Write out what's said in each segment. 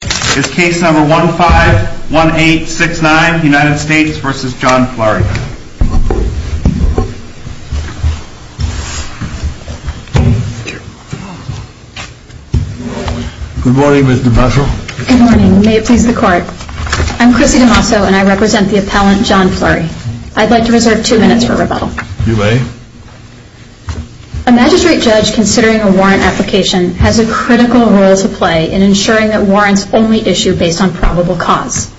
Good morning. May it please the court. I'm Chrissy DeMosso and I represent the appellant John Fleury. I'd like to reserve two minutes for rebuttal. You may. A magistrate judge considering a warrant application has a critical role to play in ensuring that warrants only issue based on probable cause.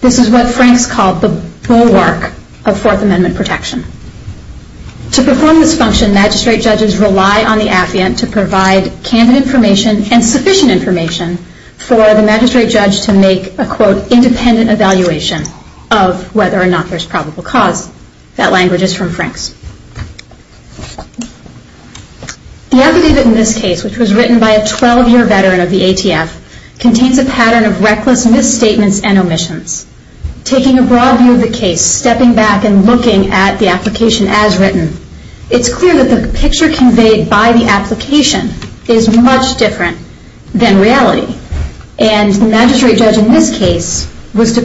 This is what Franks called the bulwark of Fourth Amendment protection. To perform this function, magistrate judges rely on the affiant to provide candid information and sufficient information for the magistrate judge to make a quote independent evaluation of whether or not there's probable cause. That language is from Franks. The affidavit in this case, which was written by a 12-year veteran of the ATF, contains a pattern of reckless misstatements and omissions. Taking a broad view of the case, stepping back and looking at the application as written, it's clear that the picture conveyed by the application is much different than reality. And the magistrate judge in this case was a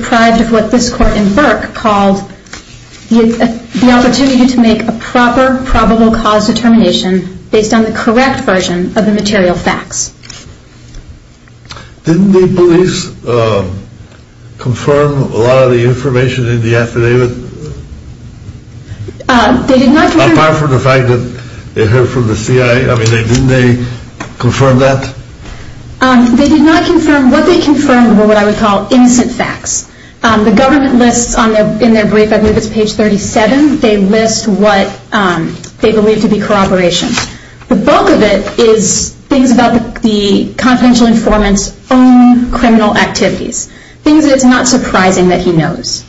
proper probable cause determination based on the correct version of the material facts. Didn't the police confirm a lot of the information in the affidavit, apart from the fact that they heard from the CIA? I mean, didn't they confirm that? They did not confirm. What they confirmed were what I would call innocent facts. The they believed to be corroborations. The bulk of it is things about the confidential informant's own criminal activities. Things that it's not surprising that he knows.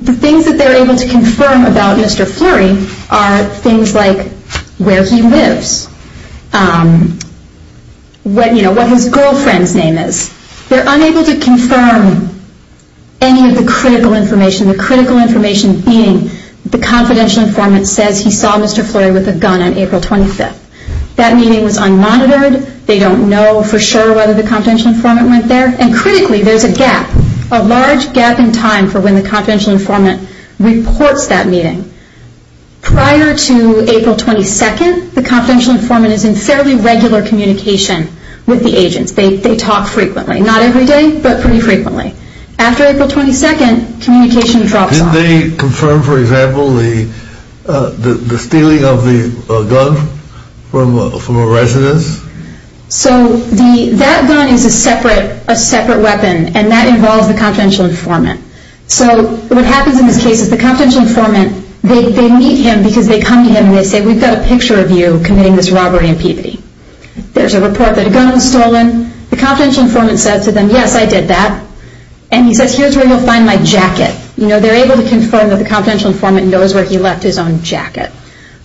The things that they're able to confirm about Mr. Fleury are things like where he lives, what his girlfriend's name is. They're unable to confirm any of the critical information, the critical information being the confidential informant says he saw Mr. Fleury with a gun on April 25th. That meeting was unmonitored. They don't know for sure whether the confidential informant went there. And critically, there's a gap, a large gap in time for when the confidential informant reports that meeting. Prior to April 22nd, the confidential informant is in fairly regular communication with the agents. They talk frequently. Not every day, but pretty frequently. After April 22nd, communication drops off. Did they confirm, for example, the stealing of the gun from a residence? So that gun is a separate weapon and that involves the confidential informant. So what happens in this case is the confidential informant, they meet him because they come to him and they say, we've got a picture of you committing this robbery and puberty. There's a report that a gun was stolen. The confidential informant says to that, and he says, here's where you'll find my jacket. They're able to confirm that the confidential informant knows where he left his own jacket.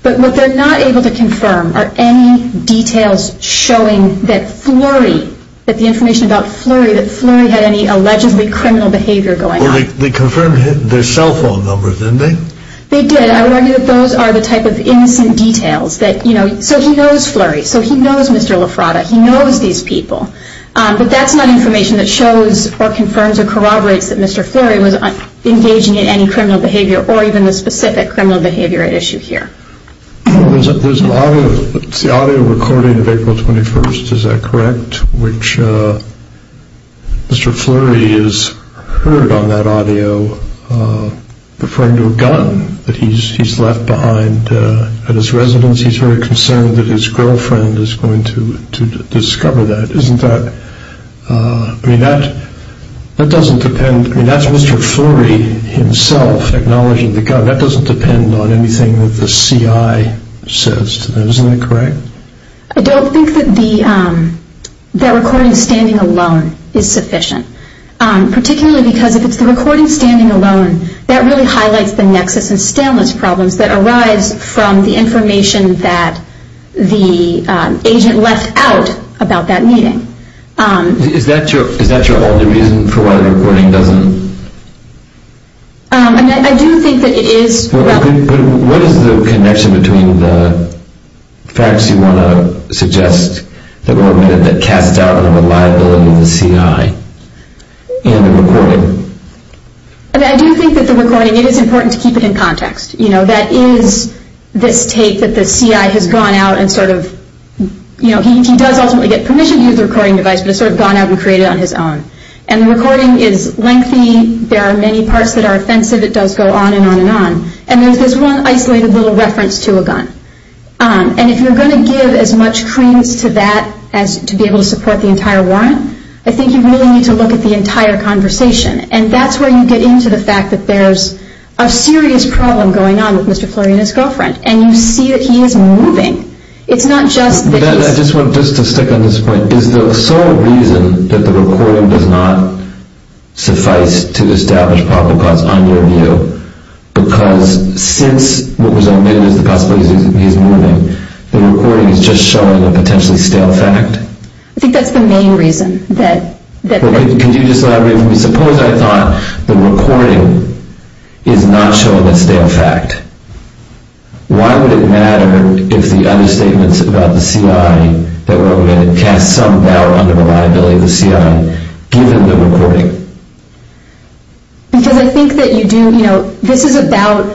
But what they're not able to confirm are any details showing that Fleury, that the information about Fleury, that Fleury had any allegedly criminal behavior going on. They confirmed their cell phone numbers, didn't they? They did. I argue that those are the type of innocent details that, you know, so he knows Fleury. So he knows Mr. LaFrada. He knows these people. But that's not information that shows or confirms or corroborates that Mr. Fleury was engaging in any criminal behavior or even the specific criminal behavior at issue here. There's an audio recording of April 21st, is that correct? Which Mr. Fleury is heard on that audio referring to a gun that he's left behind at his residence. He's very concerned that his girlfriend is going to discover that. Isn't that, I mean, that doesn't depend, I mean, that's Mr. Fleury himself acknowledging the gun. That doesn't depend on anything that the CI says to them, isn't that correct? I don't think that the, that recording standing alone is sufficient. Particularly because if it's the recording standing alone, that really highlights the nexus and stainless problems that arise from the information that the agent left out about that meeting. Is that your only reason for why the recording doesn't? I do think that it is. What is the connection between the facts you want to suggest that were omitted that casts I do think that the recording, it is important to keep it in context. You know, that is this tape that the CI has gone out and sort of, you know, he does ultimately get permission to use the recording device, but it's sort of gone out and created on his own. And the recording is lengthy, there are many parts that are offensive, it does go on and on and on. And there's this one isolated little reference to a gun. And if you're going to give as much creams to that as to be able to support the entire warrant, I think you really need to look at the entire conversation. And that's where you get into the fact that there's a serious problem going on with Mr. Flurry and his girlfriend. And you see that he is moving. It's not just that he's... I just want to stick on this point. Is the sole reason that the recording does not suffice to establish probable cause on your view, because since what was omitted is the possibility that he's moving, the recording is just showing a potentially stale fact? I think that's the main reason that... Well, could you just elaborate for me? Suppose I thought the recording is not showing a stale fact. Why would it matter if the other statements about the CI that were omitted cast some doubt under the liability of the CI, given the recording? Because I think that you do, you know, this is about,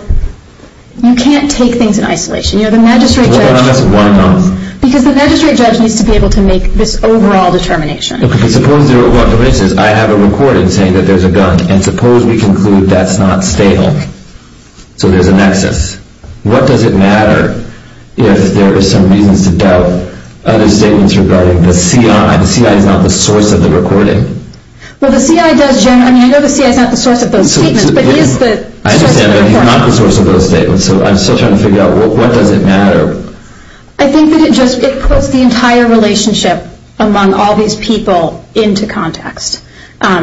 you can't take things in isolation. You know, the magistrate judge... Well, then why not? Because the magistrate judge needs to be able to make this overall determination. Suppose, for instance, I have a recording saying that there's a gun, and suppose we conclude that's not stale, so there's a nexus. What does it matter if there are some reasons to doubt other statements regarding the CI? The CI is not the source of the recording. Well, the CI does generally... I mean, I know the CI is not the source of those statements, but he is the source of the recording. I understand, but he's not the source of those statements, so I'm still trying to figure out what does it matter? I think that it just, it puts the entire relationship among all these people into context.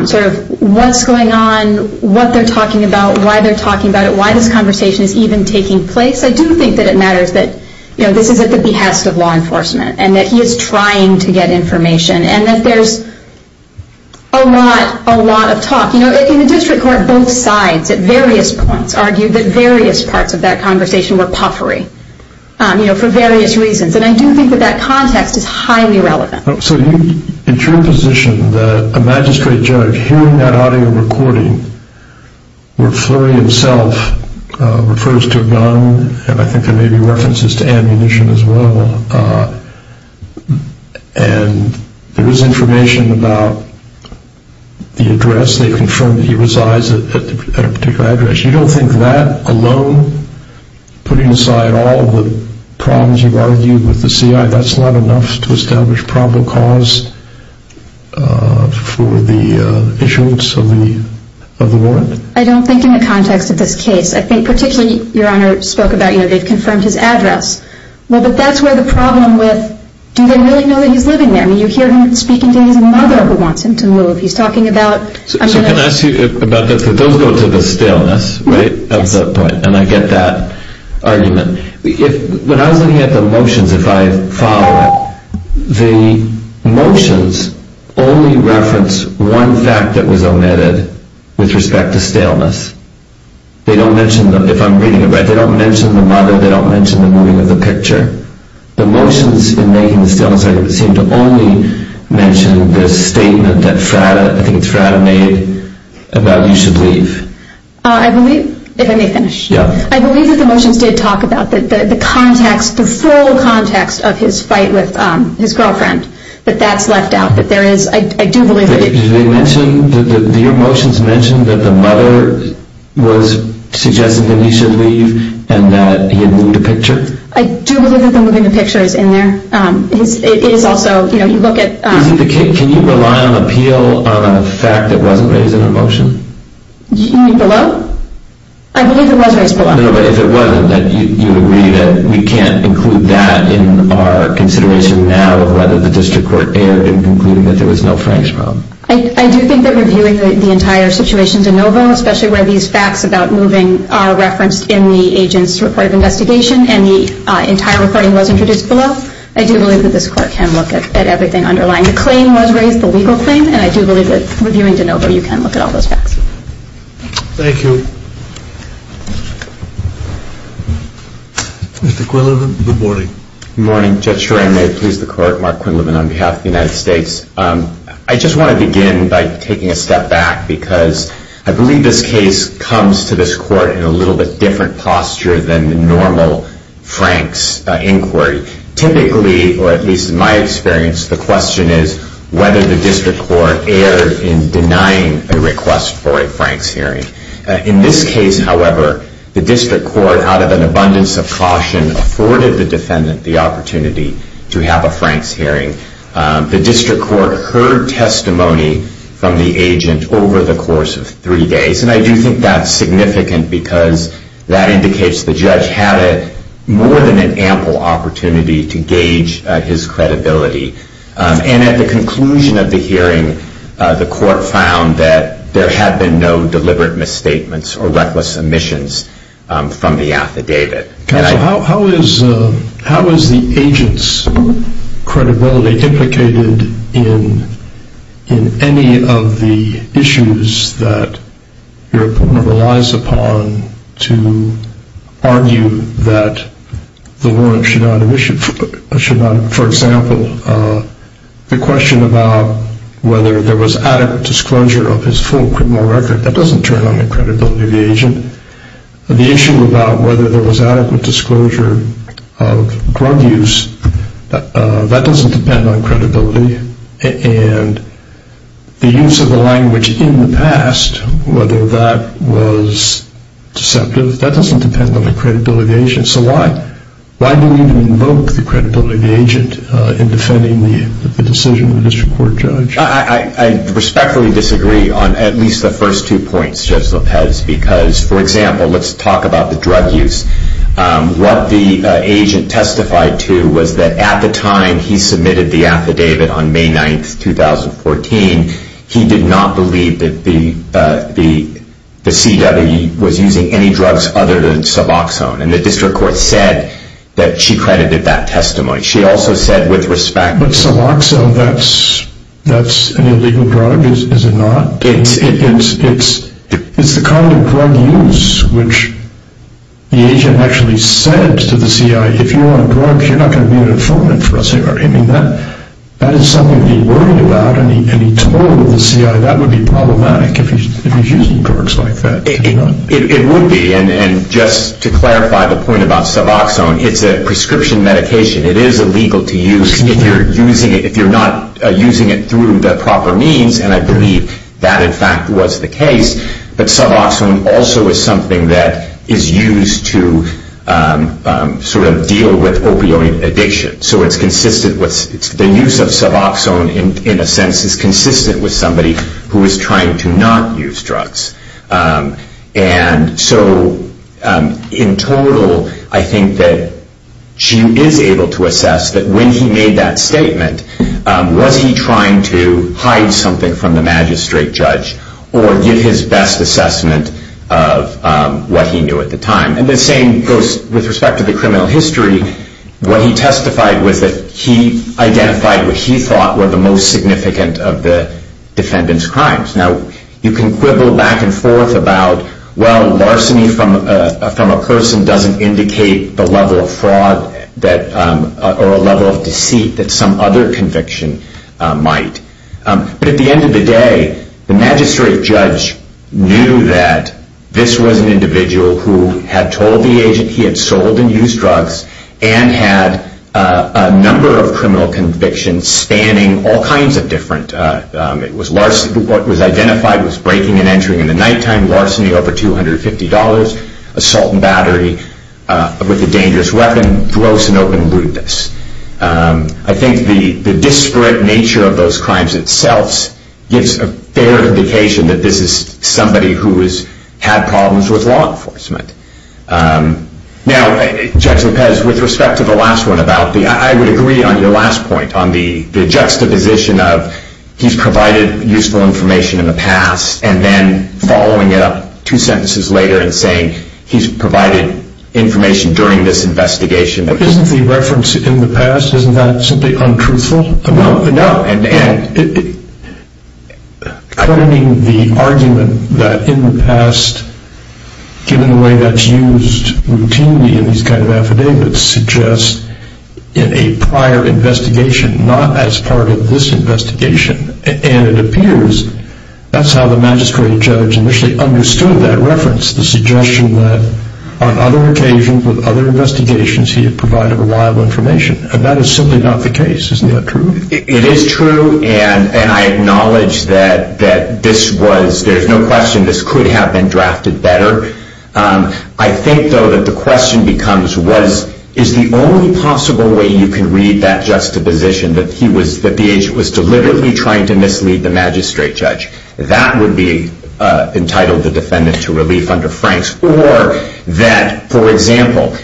Sort of what's going on, what they're talking about, why they're talking about it, why this conversation is even taking place. I do think that it matters that, you know, this is at the behest of law enforcement, and that he is trying to get information, and that there's a lot, a lot of talk. You know, in the district court, both sides at various points argued that various parts of that conversation were puffery, you know, for various reasons, and I do think that that context is highly relevant. So, in your position, the magistrate judge hearing that audio recording, where Fleury himself refers to a gun, and I think there may be references to ammunition as well, and there is information about the address, they've confirmed that he resides at a particular address. You don't think that alone, putting aside all the problems you've argued with the CI, that's not enough to establish probable cause for the issuance of the warrant? I don't think in the context of this case. I think particularly, Your Honor spoke about, you know, they've confirmed his address. Well, but that's where the problem with, do they really know that he's living there? I mean, you hear him speaking to his mother, who wants him to move. He's talking about... So can I ask you about, those go to the staleness, right, of the point, and I get that argument. If, when I was looking at the motions, if I follow it, the motions only reference one fact that was omitted with respect to staleness. They don't mention, if I'm reading it right, they don't mention the mother, they don't mention the moving of the picture. The motions in making the staleness argument seem to only mention the statement that Frada, I think it's Frada, made about you should leave. I believe, if I may finish. Yeah. I believe that the motions did talk about the context, the full context of his fight with his girlfriend, but that's left out. But there is, I do believe that it... Did they mention, did your motions mention that the mother was suggesting that he should leave, and that he had moved the picture? I do believe that the moving the picture is in there. It is also, you know, you look at... Can you rely on appeal on a fact that wasn't raised in the motion? You mean below? I believe it was raised below. No, but if it wasn't, then you would agree that we can't include that in our consideration now of whether the district court erred in concluding that there was no Frank's problem. I do think that reviewing the entire situation de novo, especially where these facts about and the entire recording was introduced below, I do believe that this court can look at everything underlying. The claim was raised, the legal claim, and I do believe that reviewing de novo, you can look at all those facts. Thank you. Mr. Quinlivan, good morning. Good morning. Judge Schor, if I may please the court. Mark Quinlivan on behalf of the United States. I just want to begin by taking a step back, because I believe this case comes to this case with a different posture than the normal Frank's inquiry. Typically, or at least in my experience, the question is whether the district court erred in denying a request for a Frank's hearing. In this case, however, the district court, out of an abundance of caution, afforded the defendant the opportunity to have a Frank's hearing. The district court heard testimony from the agent over the course of three days, and I think that indicates the judge had more than an ample opportunity to gauge his credibility. And at the conclusion of the hearing, the court found that there had been no deliberate misstatements or reckless omissions from the affidavit. Counsel, how is the agent's credibility implicated in any of the issues that your opponent relies upon to argue that the warrant should not have issued? For example, the question about whether there was adequate disclosure of his full criminal record, that doesn't turn on the credibility of the agent. The issue about whether there was adequate disclosure of drug use, that doesn't depend on credibility. And the use of the language in the past, whether that was deceptive, that doesn't depend on the credibility of the agent. So why do we need to invoke the credibility of the agent in defending the decision of the district court judge? I respectfully disagree on at least the first two points, Judge Lopez, because, for example, let's talk about the drug use. What the agent testified to was that at the time he submitted the affidavit on May 9th, 2014, he did not believe that the CW was using any drugs other than Suboxone. And the district court said that she credited that testimony. She also said with respect... But Suboxone, that's an illegal drug, is it not? It's the kind of drug use which the agent actually said to the CI, if you want a drug, you're not going to be an informant for us here. I mean, that is something to be worried about. And he told the CI that would be problematic if he's using drugs like that. It would be. And just to clarify the point about Suboxone, it's a prescription medication. It is illegal to use if you're not using it through the proper means. And I believe that, in fact, was the case. But Suboxone also is something that is used to sort of deal with opioid addiction. So it's consistent with the use of Suboxone, in a sense, is consistent with somebody who is trying to not use drugs. And so, in total, I think that she is able to assess that when he made that statement, was he trying to hide something from the magistrate judge or give his best assessment of what he knew at the time. And the same goes with respect to the criminal history. What he testified was that he identified what he thought were the most significant of the defendant's crimes. Now, you can quibble back and forth about, well, But at the end of the day, the magistrate judge knew that this was an individual who had told the agent he had sold and used drugs and had a number of criminal convictions spanning all kinds of different. What was identified was breaking and entering in the nighttime, larceny over $250, assault and battery with a dangerous weapon, gross and open rudeness. I think the disparate nature of those crimes itself gives a fair indication that this is somebody who has had problems with law enforcement. Now, Judge Lopez, with respect to the last one about the, I would agree on your last point on the juxtaposition of he's provided useful information in the past and then following it up two sentences later and saying he's provided information during this investigation. But isn't the reference in the past, isn't that simply untruthful? No. And claiming the argument that in the past, given the way that's used routinely in these kind of affidavits, suggests in a prior investigation, not as part of this investigation. And it appears that's how the magistrate judge initially understood that reference, the suggestion that on other occasions, with other investigations, he had provided reliable information. And that is simply not the case. Isn't that true? It is true. And I acknowledge that this was, there's no question, this could have been drafted better. I think, though, that the question becomes was, is the only possible way you can read that juxtaposition that he was, that the agent was deliberately trying to mislead the magistrate judge? That would be entitled the defendant to relief under Franks. Or that, for example,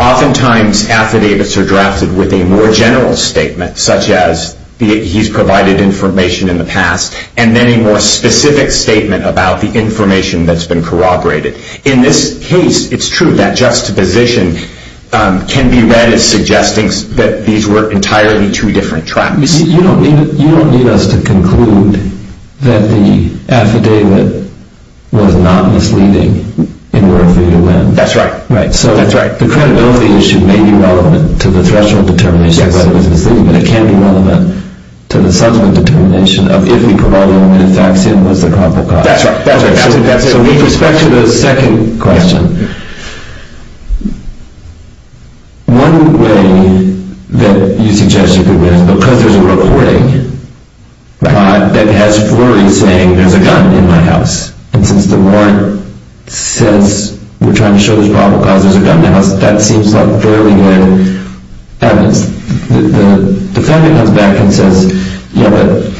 oftentimes affidavits are drafted with a more general statement, such as he's provided information in the past, and then a more specific statement about the information that's been corroborated. In this case, it's true that juxtaposition can be read as suggesting that these were entirely two different tracks. You don't need us to conclude that the affidavit was not misleading in World Freedom Land. That's right. Right. So the credibility issue may be relevant to the threshold determination that it was misleading, but it can be relevant to the subsequent determination of if he provided only the facts, and it was the probable cause. That's right. So with respect to the second question, one way that you suggest you could read it is because there's a recording that has Flurry saying, there's a gun in my house. And since the warrant says we're trying to show there's a probable cause there's a gun in the house, that seems like fairly good evidence. The defendant comes back and says, yeah, but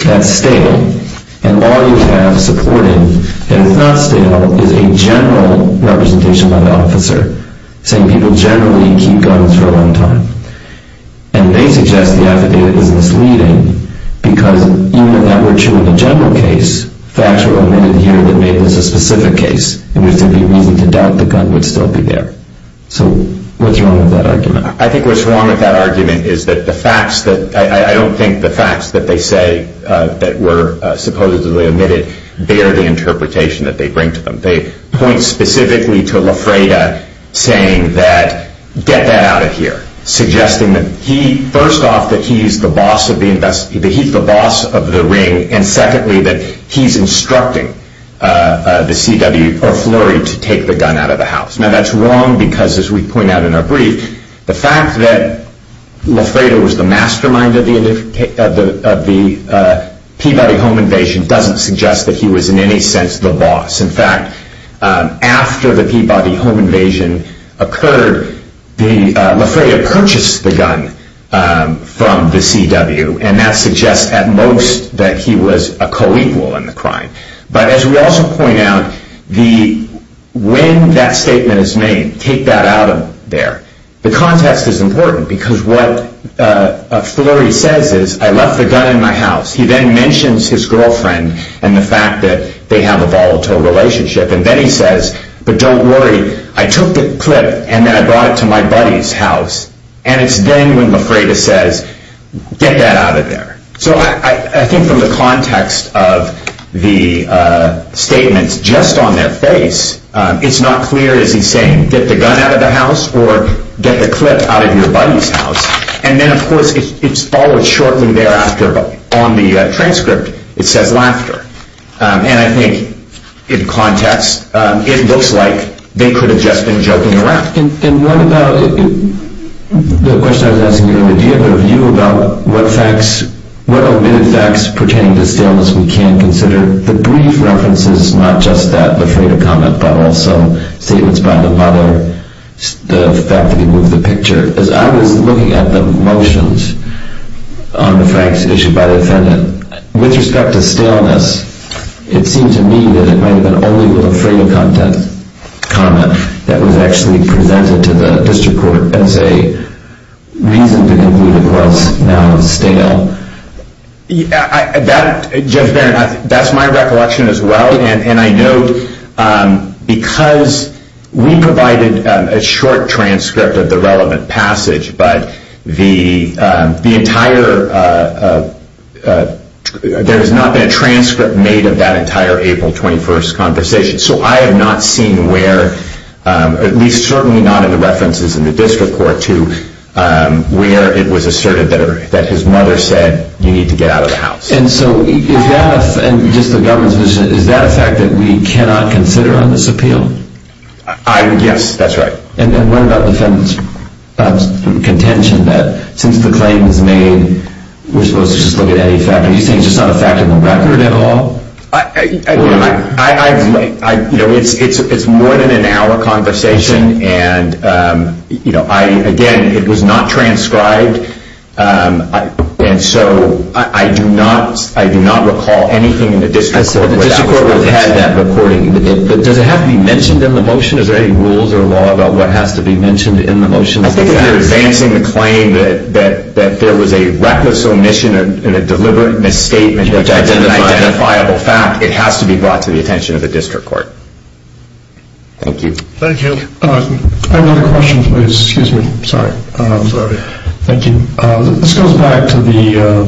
that's stale. And all you have supporting that it's not stale is a general representation by the officer saying people generally keep guns for a long time. And they suggest the affidavit is misleading because even if that were true in the general case, facts were omitted here that made this a specific case in which there'd be reason to doubt the gun would still be there. I think what's wrong with that argument is that the facts that, I don't think the facts that they say that were supposedly omitted bear the interpretation that they bring to them. They point specifically to Lafreda saying that, get that out of here, suggesting that he, first off that he's the boss of the ring, and secondly that he's instructing the CW or Flurry to take the gun out of the house. Now that's wrong because as we point out in our brief, the fact that Lafreda was the mastermind of the Peabody home invasion doesn't suggest that he was in any sense the boss. In fact, after the Peabody home invasion occurred, Lafreda purchased the gun from the CW, and that suggests at most that he was a co-equal in the crime. But as we also point out, when that statement is made, take that out of there, the context is important because what Flurry says is, I left the gun in my house. He then mentions his girlfriend and the fact that they have a volatile relationship, and then he says, but don't worry, I took the clip and then I brought it to my buddy's house. And it's then when Lafreda says, get that out of there. So I think from the context of the statements just on their face, it's not clear is he saying, get the gun out of the house or get the clip out of your buddy's house. And then, of course, it's followed shortly thereafter on the transcript, it says laughter. And I think in context, it looks like they could have just been joking around. And what about the question I was asking earlier, do you have a view about what facts, what omitted facts pertaining to staleness we can consider? The brief reference is not just that Lafreda comment, but also statements by the mother, the fact that he moved the picture. As I was looking at the motions on the Franks issue by the defendant, with respect to staleness, it seemed to me that it might have been only Lafreda comment that was actually presented to the district court as a reason to conclude it was now stale. That, Judge Barron, that's my recollection as well. And I know because we provided a short transcript of the relevant passage, but there has not been a transcript made of that entire April 21st conversation. So I have not seen where, at least certainly not in the references in the district court, to where it was asserted that his mother said, you need to get out of the house. And so is that a fact that we cannot consider on this appeal? Yes, that's right. And what about the defendant's contention that since the claim is made, we're supposed to just look at any fact? Are you saying it's just not a fact on the record at all? I, you know, it's more than an hour conversation. And, you know, I, again, it was not transcribed. And so I do not recall anything in the district court. I said the district court would have had that recording. But does it have to be mentioned in the motion? Is there any rules or law about what has to be mentioned in the motion? I think if you're advancing the claim that there was a reckless omission and a deliberate misstatement of an identifiable fact, it has to be brought to the attention of the district court. Thank you. Thank you. I have a question, please. Excuse me. Sorry. Sorry. Thank you. This goes back to the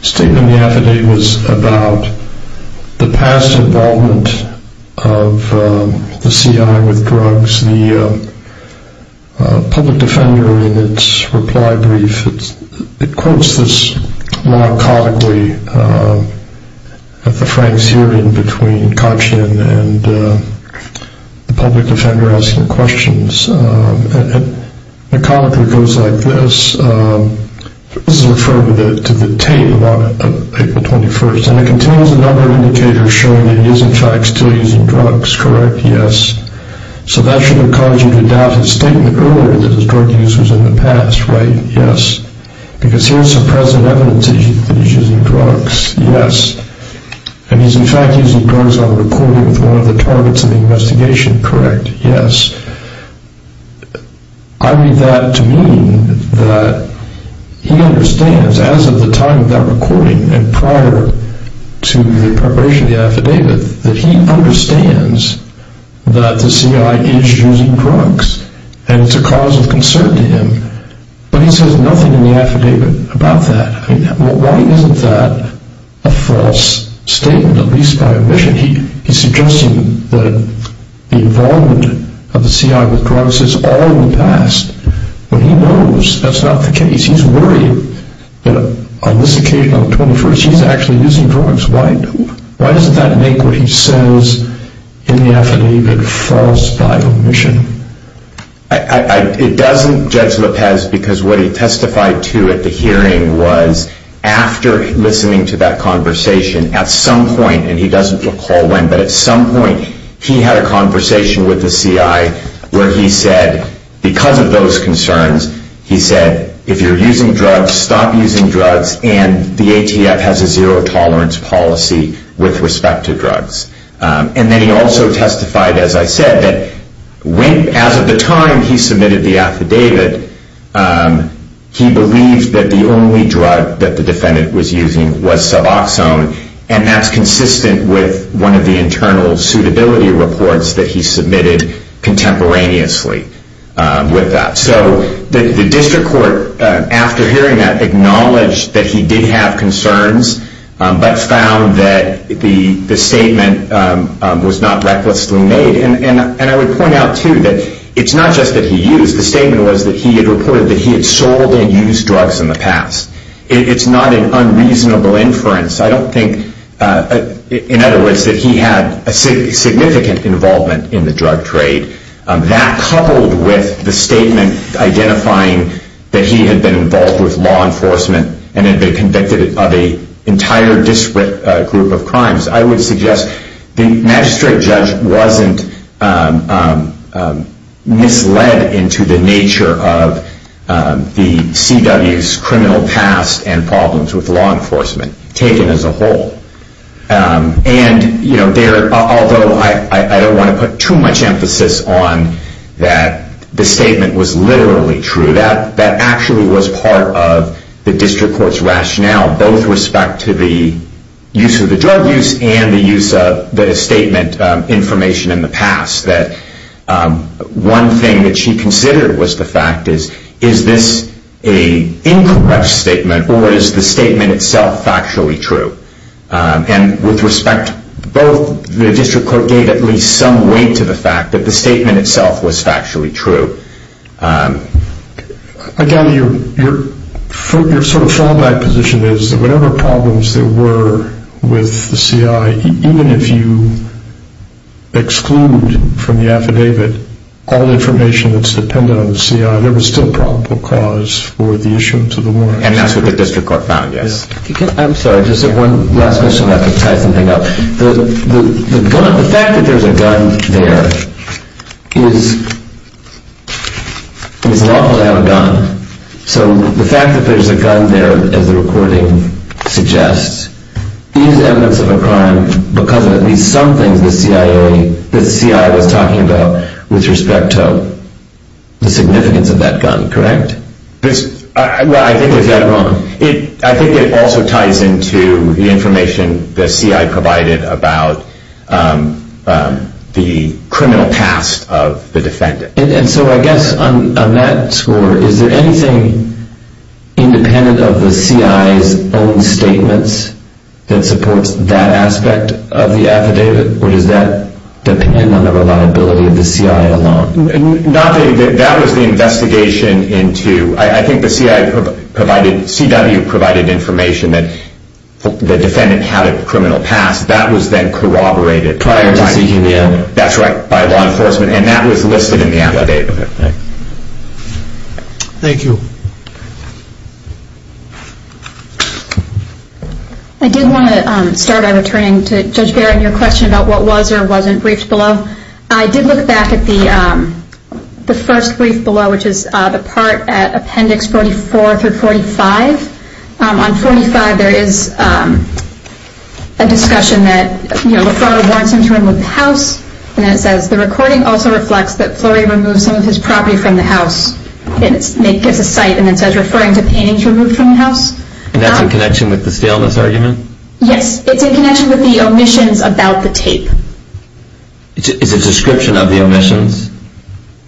statement in the affidavit was about the past involvement of the CI with drugs. The public defender in its reply brief, it quotes this laudacotically at the frank searing between Kotchin and the public defender asking questions. The comment goes like this. This is referring to the tape on April 21st. And it contains a number of indicators showing that he is, in fact, still using drugs. Correct? Yes. So that should have caused you to doubt his statement earlier that his drug use was in the past. Right? Yes. Because here's some present evidence that he's using drugs. Yes. And he's, in fact, using drugs on a recording with one of the targets of the investigation. Correct? Correct. Yes. I read that to mean that he understands as of the time of that recording and prior to the preparation of the affidavit that he understands that the CI is using drugs and it's a cause of concern to him. But he says nothing in the affidavit about that. I mean, why isn't that a false statement, at least by omission? He's suggesting that the involvement of the CI with drugs is all in the past. But he knows that's not the case. He's worried that on this occasion, on the 21st, he's actually using drugs. Why doesn't that make what he says in the affidavit false by omission? It doesn't, Judge Lopez, because what he testified to at the hearing was after listening to that conversation, at some point, and he doesn't recall when, but at some point, he had a conversation with the CI where he said, because of those concerns, he said, if you're using drugs, stop using drugs, and the ATF has a zero tolerance policy with respect to drugs. And then he also testified, as I said, that as of the time he submitted the affidavit, he believed that the only drug that the defendant was using was Suboxone, and that's consistent with one of the internal suitability reports that he submitted contemporaneously with that. So the district court, after hearing that, acknowledged that he did have concerns, but found that the statement was not recklessly made. And I would point out, too, that it's not just that he used. The statement was that he had reported that he had sold and used drugs in the past. It's not an unreasonable inference. I don't think, in other words, that he had a significant involvement in the drug trade. That, coupled with the statement identifying that he had been involved with law enforcement and had been convicted of an entire disparate group of crimes, I would suggest the magistrate judge wasn't misled into the nature of the CW's criminal past and problems with law enforcement taken as a whole. And, you know, although I don't want to put too much emphasis on that the statement was literally true, that actually was part of the district court's rationale, both with respect to the use of the drug use and the use of the statement information in the past, that one thing that she considered was the fact is, is this an incorrect statement or is the statement itself factually true? And with respect, both the district court gave at least some weight to the fact that the statement itself was factually true. Again, your sort of fallback position is that whatever problems there were with the C.I., even if you exclude from the affidavit all information that's dependent on the C.I., there was still probable cause for the issuance of the warrant. And that's what the district court found, yes. I'm sorry, just one last question and I can tie something up. The fact that there's a gun there is lawful to have a gun. So the fact that there's a gun there, as the recording suggests, is evidence of a crime because of at least some things the C.I. was talking about with respect to the significance of that gun, correct? Well, I think there's that wrong. I think it also ties into the information the C.I. provided about the criminal past of the defendant. And so I guess on that score, is there anything independent of the C.I.'s own statements that supports that aspect of the affidavit or does that depend on the reliability of the C.I. alone? That was the investigation into, I think the C.I. provided, C.W. provided information that the defendant had a criminal past. That was then corroborated by law enforcement. And that was listed in the affidavit. Thank you. I did want to start by returning to Judge Barrett and your question about what was or wasn't briefed below. I did look back at the first brief below, which is the part at Appendix 44 through 45. On 45, there is a discussion that, you know, the fraud warrants him to remove the house. And it says, the recording also reflects that Flurry removed some of his property from the house. And it gives a cite and it says referring to paintings removed from the house. And that's in connection with the staleness argument? Yes. It's in connection with the omissions about the tape. It's a description of the omissions?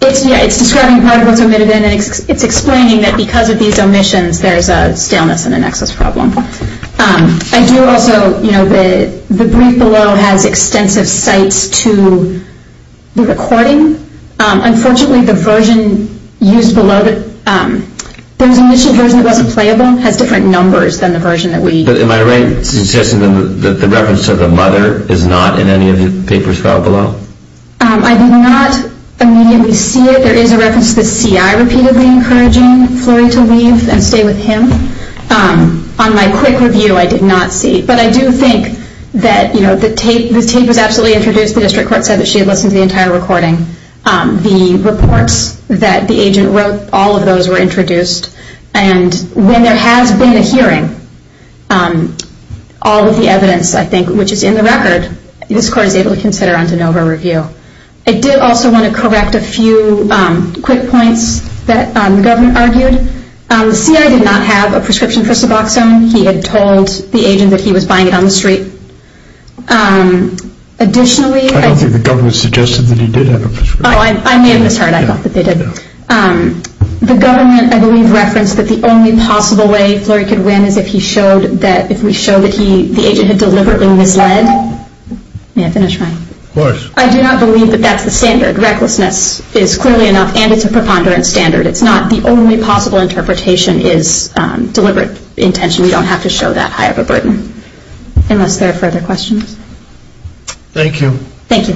It's describing part of what's omitted. And it's explaining that because of these omissions, there's a staleness and an excess problem. I do also, you know, the brief below has extensive cites to the recording. Unfortunately, the version used below, there was an omission version that wasn't playable. It has different numbers than the version that we used. But am I right in suggesting that the reference to the mother is not in any of the papers filed below? I did not immediately see it. There is a reference to the CI repeatedly encouraging Flurry to leave and stay with him. On my quick review, I did not see it. But I do think that, you know, the tape was absolutely introduced. The district court said that she had listened to the entire recording. The reports that the agent wrote, all of those were introduced. And when there has been a hearing, all of the evidence, I think, which is in the record, this court is able to consider on de novo review. I did also want to correct a few quick points that the government argued. The CI did not have a prescription for Suboxone. He had told the agent that he was buying it on the street. Additionally- I don't think the government suggested that he did have a prescription. Oh, I may have misheard. I thought that they did. The government, I believe, referenced that the only possible way Flurry could win is if we showed that the agent had deliberately misled. May I finish my- Of course. I do not believe that that's the standard. Recklessness is clearly enough, and it's a preponderance standard. It's not the only possible interpretation is deliberate intention. We don't have to show that high of a burden, unless there are further questions. Thank you. Thank you. Thank you.